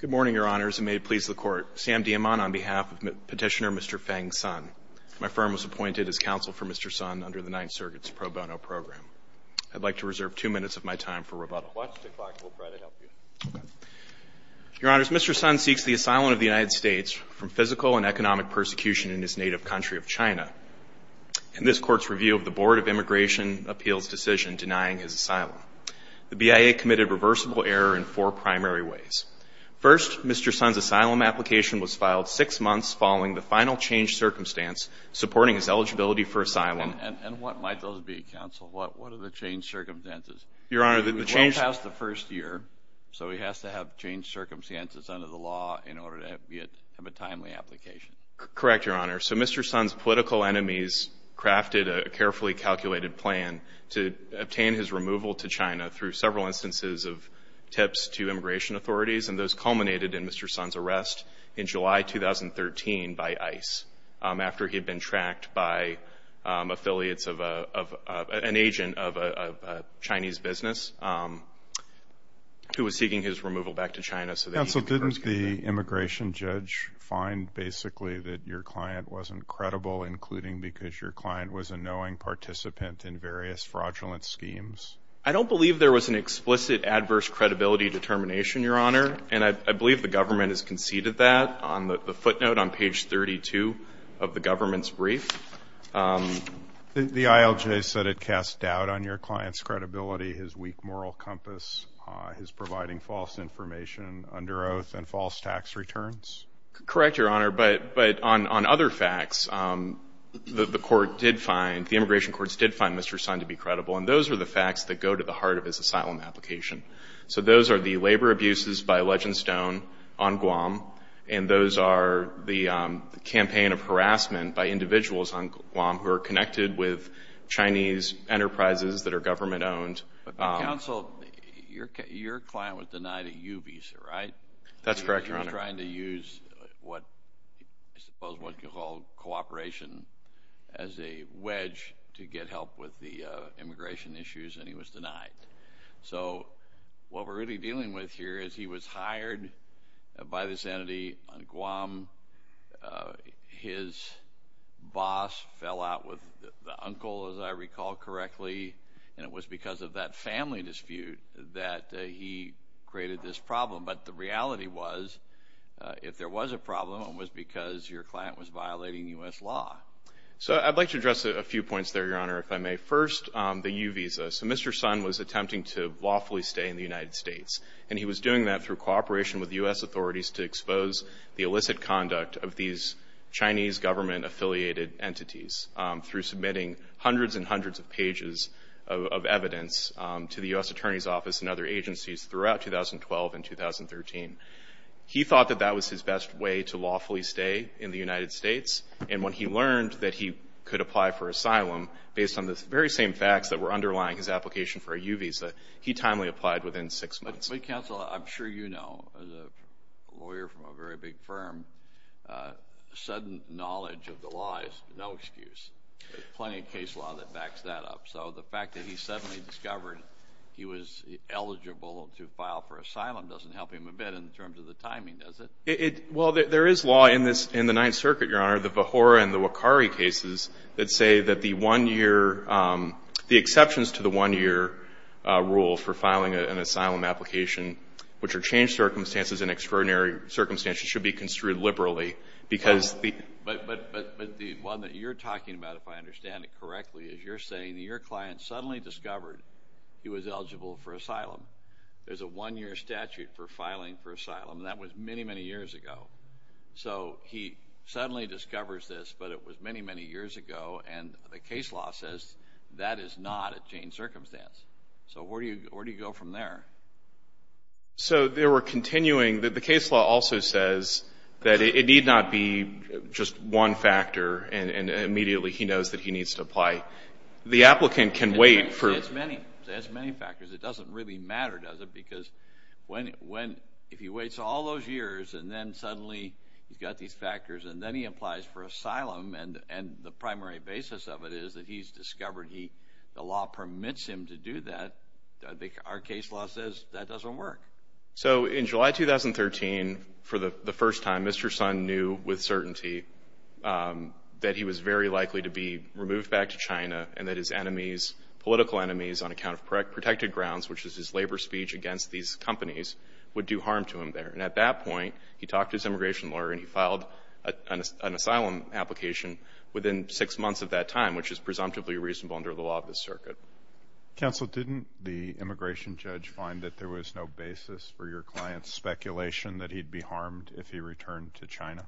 Good morning, Your Honors, and may it please the Court. Sam Diamant on behalf of Petitioner Mr. Feng Sun. My firm was appointed as counsel for Mr. Sun under the Ninth Circuit's pro bono program. I'd like to reserve two minutes of my time for rebuttal. Watch the clock. We'll try to help you. Your Honors, Mr. Sun seeks the asylum of the United States from physical and economic persecution in his native country of China. In this Court's review of the Board of Immigration Appeals' decision denying his asylum, the BIA committed reversible error in four primary ways. First, Mr. Sun's asylum application was filed six months following the final change circumstance supporting his eligibility for asylum. And what might those be, counsel? What are the change circumstances? Your Honor, the change – It was well past the first year, so he has to have change circumstances under the law in order to have a timely application. Correct, Your Honor. So Mr. Sun's political enemies crafted a carefully calculated plan to obtain his removal to China through several instances of tips to immigration authorities, and those culminated in Mr. Sun's arrest in July 2013 by ICE after he had been tracked by affiliates of an agent of a Chinese business who was seeking his removal back to China so that he could – Counsel, didn't the immigration judge find basically that your client wasn't credible, including because your client was a knowing participant in various fraudulent schemes? I don't believe there was an explicit adverse credibility determination, Your Honor, and I believe the government has conceded that on the footnote on page 32 of the government's brief. The ILJ said it cast doubt on your client's credibility, his weak moral compass, his providing false information under oath, and false tax returns. Correct, Your Honor, but on other facts, the court did find – the immigration courts did find Mr. Sun to be credible, and those are the facts that go to the heart of his asylum application. So those are the labor abuses by Legendstone on Guam, and those are the campaign of harassment by individuals on Guam who are connected with Chinese enterprises that are government-owned. Counsel, your client was denied a U visa, right? That's correct, Your Honor. He was trying to use what – I suppose what you call cooperation as a wedge to get help with the immigration issues, and he was denied. So what we're really dealing with here is he was hired by this entity on Guam. His boss fell out with the uncle, as I recall correctly, and it was because of that family dispute that he created this problem. But the reality was, if there was a problem, it was because your client was violating U.S. law. So I'd like to address a few points there, Your Honor, if I may. First, the U visa. So Mr. Sun was attempting to lawfully stay in the United States, and he was doing that through cooperation with U.S. authorities to expose the illicit conduct of these Chinese government-affiliated entities through submitting hundreds and hundreds of pages of evidence to the U.S. Attorney's Office and other agencies throughout 2012 and 2013. He thought that that was his best way to lawfully stay in the United States, and when he learned that he could apply for asylum based on the very same facts that were underlying his application for a U visa, he timely applied within six months. But counsel, I'm sure you know, as a lawyer from a very big firm, sudden knowledge of the law is no excuse. There's plenty of case law that backs that up. So the fact that he suddenly discovered he was eligible to file for asylum doesn't help him a bit in terms of the timing, does it? Well, there is law in the Ninth Circuit, Your Honor, the Vahora and the Wakari cases, that say that the exceptions to the one-year rule for filing an asylum application, which are changed circumstances in extraordinary circumstances, should be construed liberally. But the one that you're talking about, if I understand it correctly, is you're saying that your client suddenly discovered he was eligible for asylum. There's a one-year statute for filing for asylum, and that was many, many years ago. So he suddenly discovers this, but it was many, many years ago, and the case law says that is not a changed circumstance. So where do you go from there? So they were continuing. The case law also says that it need not be just one factor, and immediately he knows that he needs to apply. The applicant can wait for... There's many factors. It doesn't really matter, does it? Because if he waits all those years and then suddenly he's got these factors and then he applies for asylum and the primary basis of it is that he's discovered the law permits him to do that, our case law says that doesn't work. So in July 2013, for the first time, Mr. Sun knew with certainty that he was very likely to be removed back to China and that his enemies, political enemies, on account of protected grounds, which is his labor speech against these companies, would do harm to him there. And at that point, he talked to his immigration lawyer and he filed an asylum application within six months of that time, which is presumptively reasonable under the law of this circuit. Counsel, didn't the immigration judge find that there was no basis for your client's speculation that he'd be harmed if he returned to China?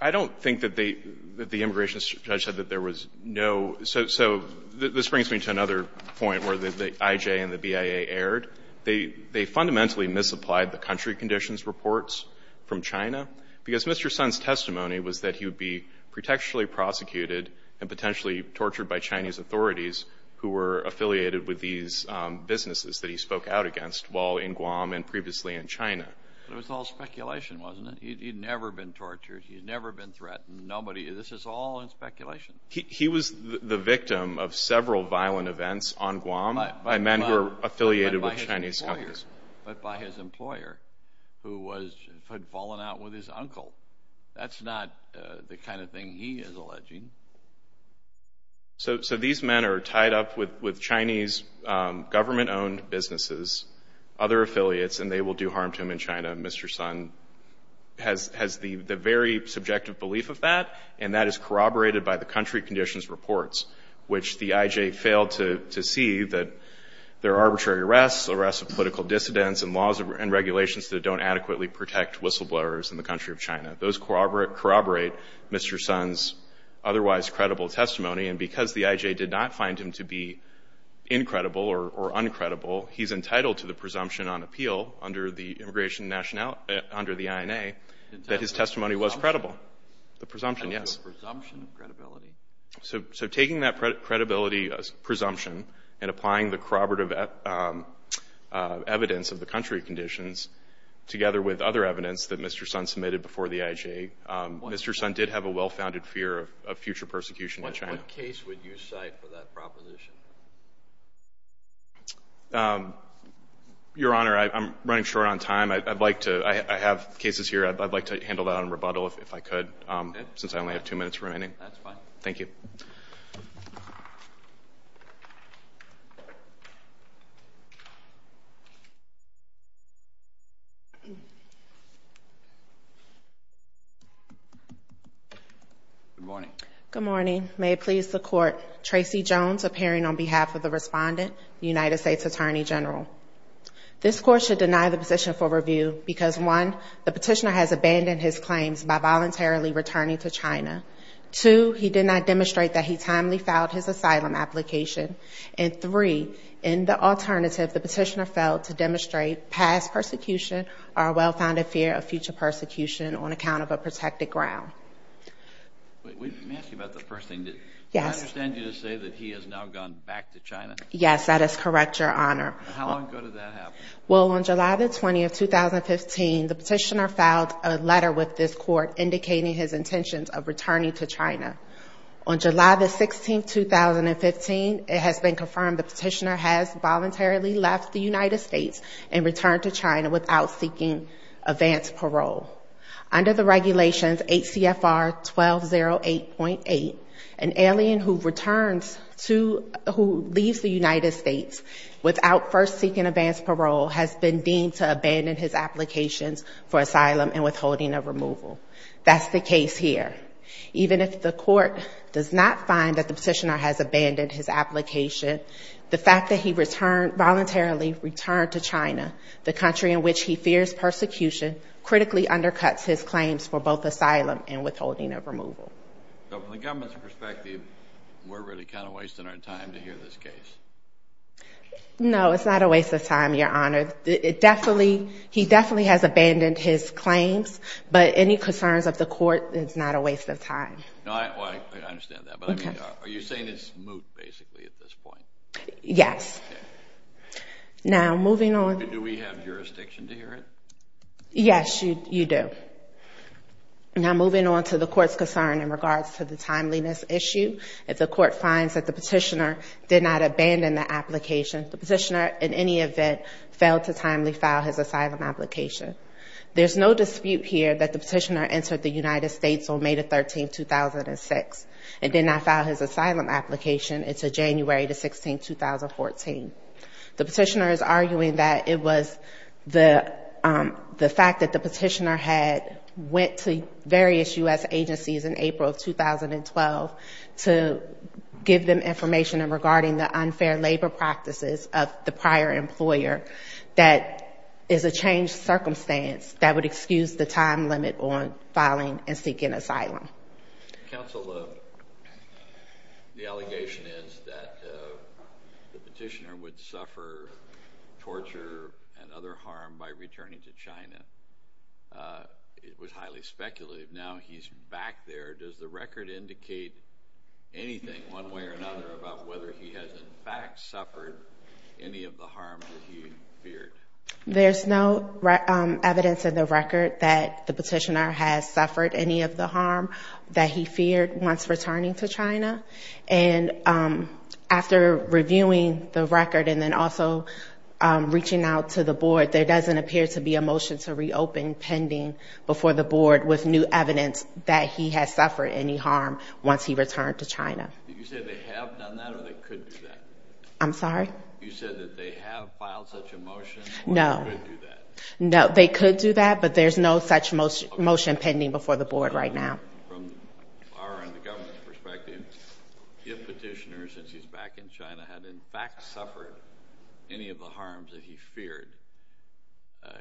I don't think that the immigration judge said that there was no... So this brings me to another point where the IJ and the BIA erred. They fundamentally misapplied the country conditions reports from China because Mr. Sun's testimony was that he would be protectionally prosecuted and potentially tortured by Chinese authorities who were affiliated with these businesses that he spoke out against while in Guam and previously in China. But it was all speculation, wasn't it? He'd never been tortured. He'd never been threatened. This is all in speculation. He was the victim of several violent events on Guam by men who were affiliated with Chinese companies. But by his employer who had fallen out with his uncle. That's not the kind of thing he is alleging. So these men are tied up with Chinese government-owned businesses, other affiliates, and they will do harm to him in China. Mr. Sun has the very subjective belief of that, and that is corroborated by the country conditions reports, which the IJ failed to see that there are arbitrary arrests, arrests of political dissidents, and laws and regulations that don't adequately protect whistleblowers in the country of China. Those corroborate Mr. Sun's otherwise credible testimony, and because the IJ did not find him to be incredible or uncredible, he's entitled to the presumption on appeal under the immigration nationality, under the INA, that his testimony was credible. The presumption, yes. So taking that credibility presumption and applying the corroborative evidence of the country conditions together with other evidence that Mr. Sun submitted before the IJ, Mr. Sun did have a well-founded fear of future persecution in China. What case would you cite for that proposition? Your Honor, I'm running short on time. I have cases here. I'd like to handle that in rebuttal if I could, since I only have two minutes remaining. Okay, that's fine. Thank you. Good morning. Good morning. May it please the Court, Tracey Jones appearing on behalf of the respondent, United States Attorney General. This Court should deny the position for review because, one, the petitioner has abandoned his claims by voluntarily returning to China. Two, he did not demonstrate that he timely filed his asylum application. And three, in the alternative, the petitioner failed to demonstrate past persecution or a well-founded fear of future persecution on account of a protected ground. Let me ask you about the first thing. Yes. Did I understand you to say that he has now gone back to China? Yes, that is correct, Your Honor. How long ago did that happen? Well, on July 20, 2015, the petitioner filed a letter with this Court indicating his intentions of returning to China. On July 16, 2015, it has been confirmed the petitioner has voluntarily left the United States and returned to China without seeking advance parole. Under the regulations 8 CFR 1208.8, an alien who returns to, who leaves the United States without first seeking advance parole has been deemed to abandon his applications for asylum and withholding of removal. That's the case here. Even if the Court does not find that the petitioner has abandoned his application, the fact that he voluntarily returned to China, the country in which he fears persecution, So from the government's perspective, we're really kind of wasting our time to hear this case. No, it's not a waste of time, Your Honor. It definitely, he definitely has abandoned his claims, but any concerns of the Court, it's not a waste of time. No, I understand that, but I mean, are you saying it's moot basically at this point? Yes. Okay. Now, moving on. Do we have jurisdiction to hear it? Yes, you do. Now, moving on to the Court's concern in regards to the timeliness issue, if the Court finds that the petitioner did not abandon the application, the petitioner in any event failed to timely file his asylum application. There's no dispute here that the petitioner entered the United States on May 13, 2006, and did not file his asylum application until January 16, 2014. The petitioner is arguing that it was the fact that the petitioner had went to various U.S. agencies in April 2012 to give them information regarding the unfair labor practices of the prior employer that is a changed circumstance that would excuse the time limit on filing and seeking asylum. Counsel, the allegation is that the petitioner would suffer torture and other harm by returning to China. It was highly speculative. Now he's back there. Does the record indicate anything one way or another about whether he has, in fact, suffered any of the harm that he feared? There's no evidence in the record that the petitioner has suffered any of the harm that he feared once returning to China. And after reviewing the record and then also reaching out to the board, there doesn't appear to be a motion to reopen pending before the board with new evidence that he has suffered any harm once he returned to China. Did you say they have done that or they could do that? I'm sorry? You said that they have filed such a motion or they could do that? No. They could do that, but there's no such motion pending before the board right now. From our end, the government's perspective, if the petitioner, since he's back in China, had in fact suffered any of the harms that he feared,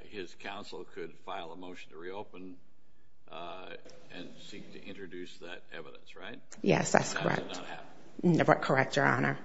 his counsel could file a motion to reopen and seek to introduce that evidence, right? Yes, that's correct. That did not happen. Correct, Your Honor.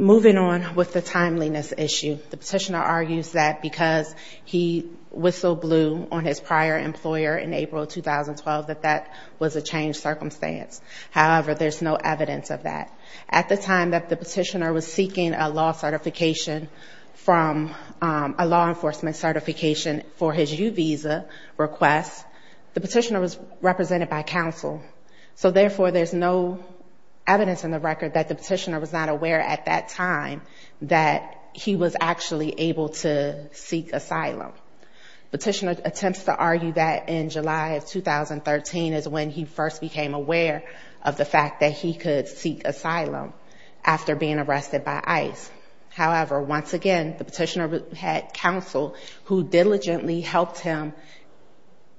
Moving on with the timeliness issue, the petitioner argues that because he whistle-blew on his prior employer in April 2012 that that was a changed circumstance. However, there's no evidence of that. At the time that the petitioner was seeking a law certification from a law enforcement certification for his U visa request, the petitioner was represented by counsel. So, therefore, there's no evidence in the record that the petitioner was not aware at that time that he was actually able to seek asylum. Petitioner attempts to argue that in July of 2013 is when he first became aware of the fact that he could seek asylum after being arrested by ICE. However, once again, the petitioner had counsel who diligently helped him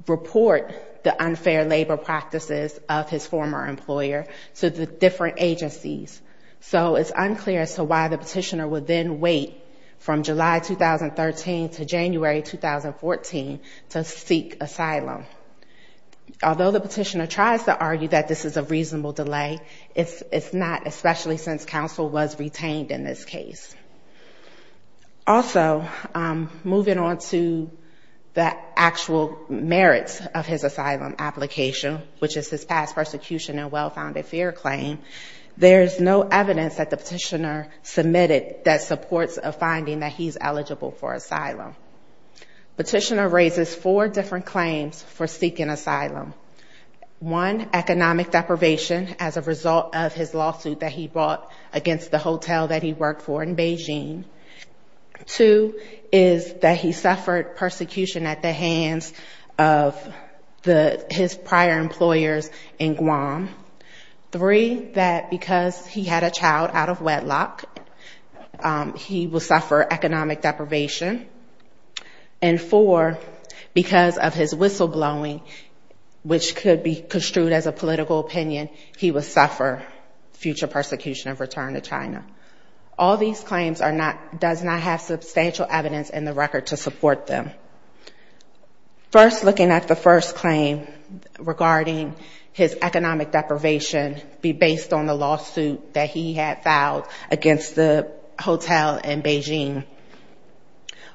report the unfair labor practices of his former employer to the different agencies. So it's unclear as to why the petitioner would then wait from July 2013 to January 2014 to seek asylum. Although the petitioner tries to argue that this is a reasonable delay, it's not, especially since counsel was retained in this case. Also, moving on to the actual merits of his asylum application, which is his past persecution and well-founded fear claim, there's no evidence that the petitioner submitted that supports a finding that he's eligible for asylum. Petitioner raises four different claims for seeking asylum. One, economic deprivation as a result of his lawsuit that he brought against the hotel that he worked for in Beijing. Two is that he suffered persecution at the hands of his prior employers in Guam. Three, that because he had a child out of wedlock, he will suffer economic deprivation. And four, because of his whistleblowing, which could be construed as a political opinion, all these claims does not have substantial evidence in the record to support them. First, looking at the first claim regarding his economic deprivation, be based on the lawsuit that he had filed against the hotel in Beijing.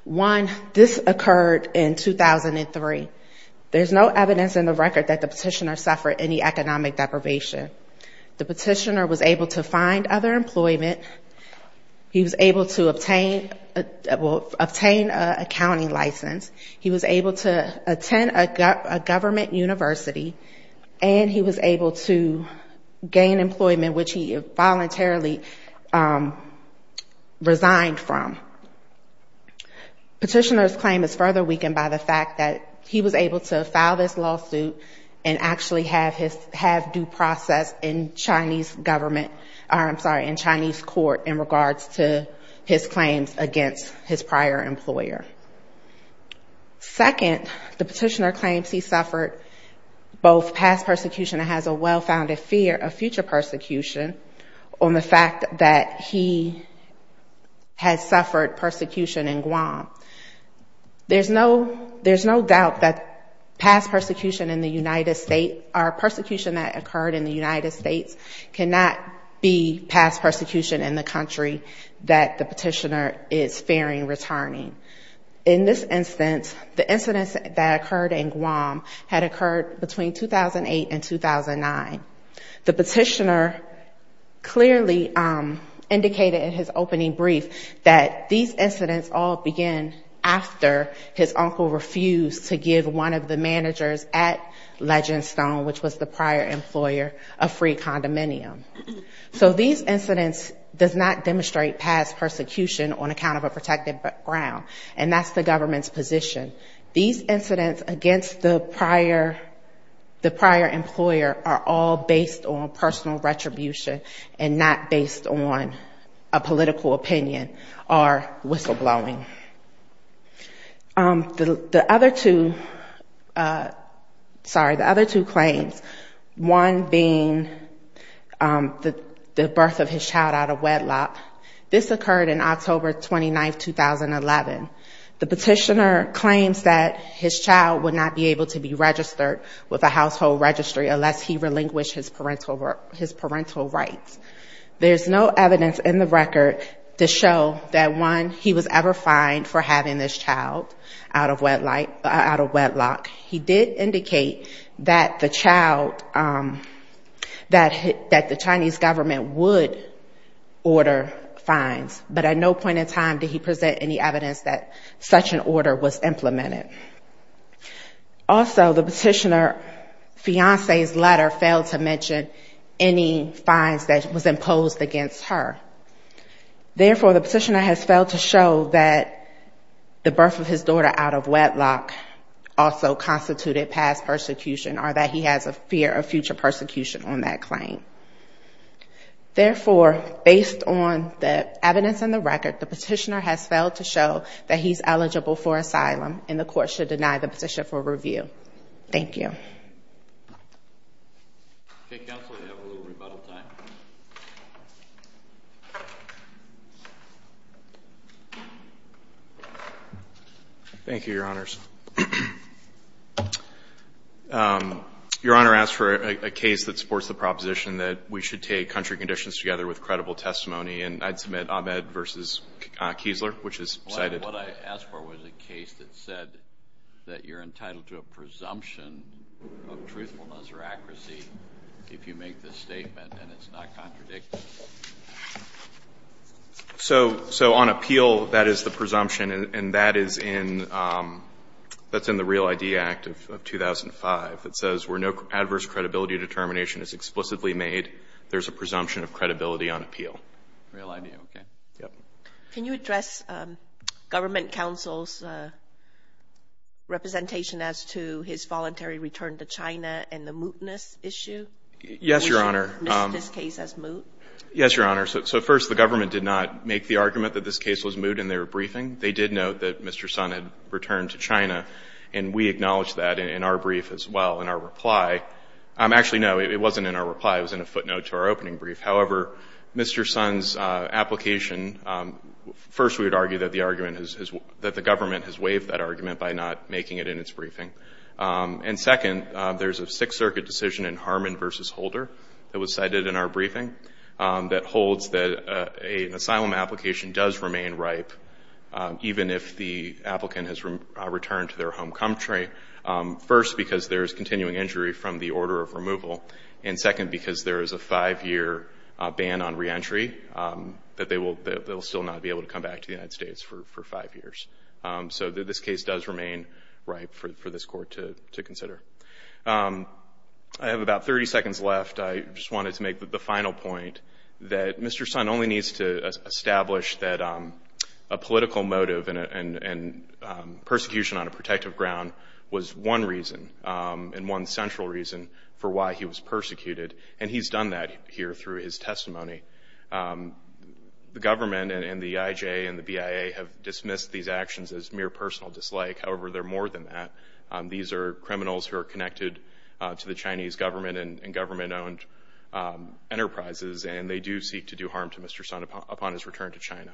One, this occurred in 2003. There's no evidence in the record that the petitioner suffered any economic deprivation. He was able to obtain a county license, he was able to attend a government university, and he was able to gain employment, which he voluntarily resigned from. Petitioner's claim is further weakened by the fact that he was able to file this lawsuit and actually have his, have due process in Chinese government, I'm sorry, in Chinese court in regards to his claims against his prior employer. Second, the petitioner claims he suffered both past persecution and has a well-founded fear of future persecution on the fact that he had suffered persecution in Guam. There's no, there's no doubt that past persecution in the United States or persecution that occurred in the United States cannot be past persecution in the country that the petitioner is fearing returning. In this instance, the incidents that occurred in Guam had occurred between 2008 and 2009. The petitioner clearly indicated in his opening brief that these incidents all began after his uncle refused to give one of the managers at Legendstone, which was the prior employer, a free condominium. So these incidents does not demonstrate past persecution on account of a protected ground, and that's the government's position. These incidents against the prior, the prior employer are all based on personal retribution and not based on a personal blowing. The other two, sorry, the other two claims, one being the birth of his child out of wedlock. This occurred in October 29th, 2011. The petitioner claims that his child would not be able to be registered with a family. He was ever fined for having this child out of wedlock. He did indicate that the child, that the Chinese government would order fines, but at no point in time did he present any evidence that such an order was implemented. Also, the petitioner's fiancee's letter failed to mention any fines that was imposed against her. Therefore, the petitioner has failed to show that the birth of his daughter out of wedlock also constituted past persecution or that he has a fear of future persecution on that claim. Therefore, based on the evidence in the record, the petitioner has failed to show that he's eligible for asylum and the court should deny the position for review. Thank you. Thank you, Your Honors. Your Honor, I ask for a case that supports the proposition that we should take country conditions together with credible testimony, and I'd submit Ahmed v. Kiesler, which is cited. Well, what I asked for was a case that said that you're entitled to a presumption of truthfulness or accuracy if you make this statement and it's not contradictory. So on appeal, that is the presumption, and that is in the Real I.D. Act of 2005 that says where no adverse credibility determination is explicitly made, there's a presumption of credibility on appeal. Real I.D., okay. Can you address government counsel's representation as to his voluntary return to China and the mootness issue? Yes, Your Honor. So first, the government did not make the argument that this case was moot in their return to China, and we acknowledge that in our brief as well, in our reply. Actually, no, it wasn't in our reply. It was in a footnote to our opening brief. However, Mr. Sun's application, first we would argue that the government has waived that argument by not making it in its briefing. And second, there's a Sixth Circuit decision in Harmon v. Holder that was cited in our briefing that holds that an asylum application does remain ripe even if the person is returned to their home country, first because there is continuing injury from the order of removal, and second, because there is a five-year ban on reentry that they will still not be able to come back to the United States for five years. So this case does remain ripe for this Court to consider. I have about 30 seconds left. I just wanted to make the final point that Mr. Sun only needs to establish that a political motive and persecution on a protective ground was one reason and one central reason for why he was persecuted, and he's done that here through his testimony. The government and the IJA and the BIA have dismissed these actions as mere personal dislike. However, they're more than that. These are criminals who are connected to the Chinese government and government-owned enterprises, and they do seek to do harm to Mr. Sun upon his return to China.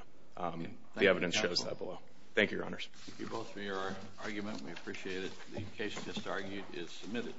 The evidence shows that below. Thank you, Your Honors. Thank you both for your argument. We appreciate it. The case just argued is submitted.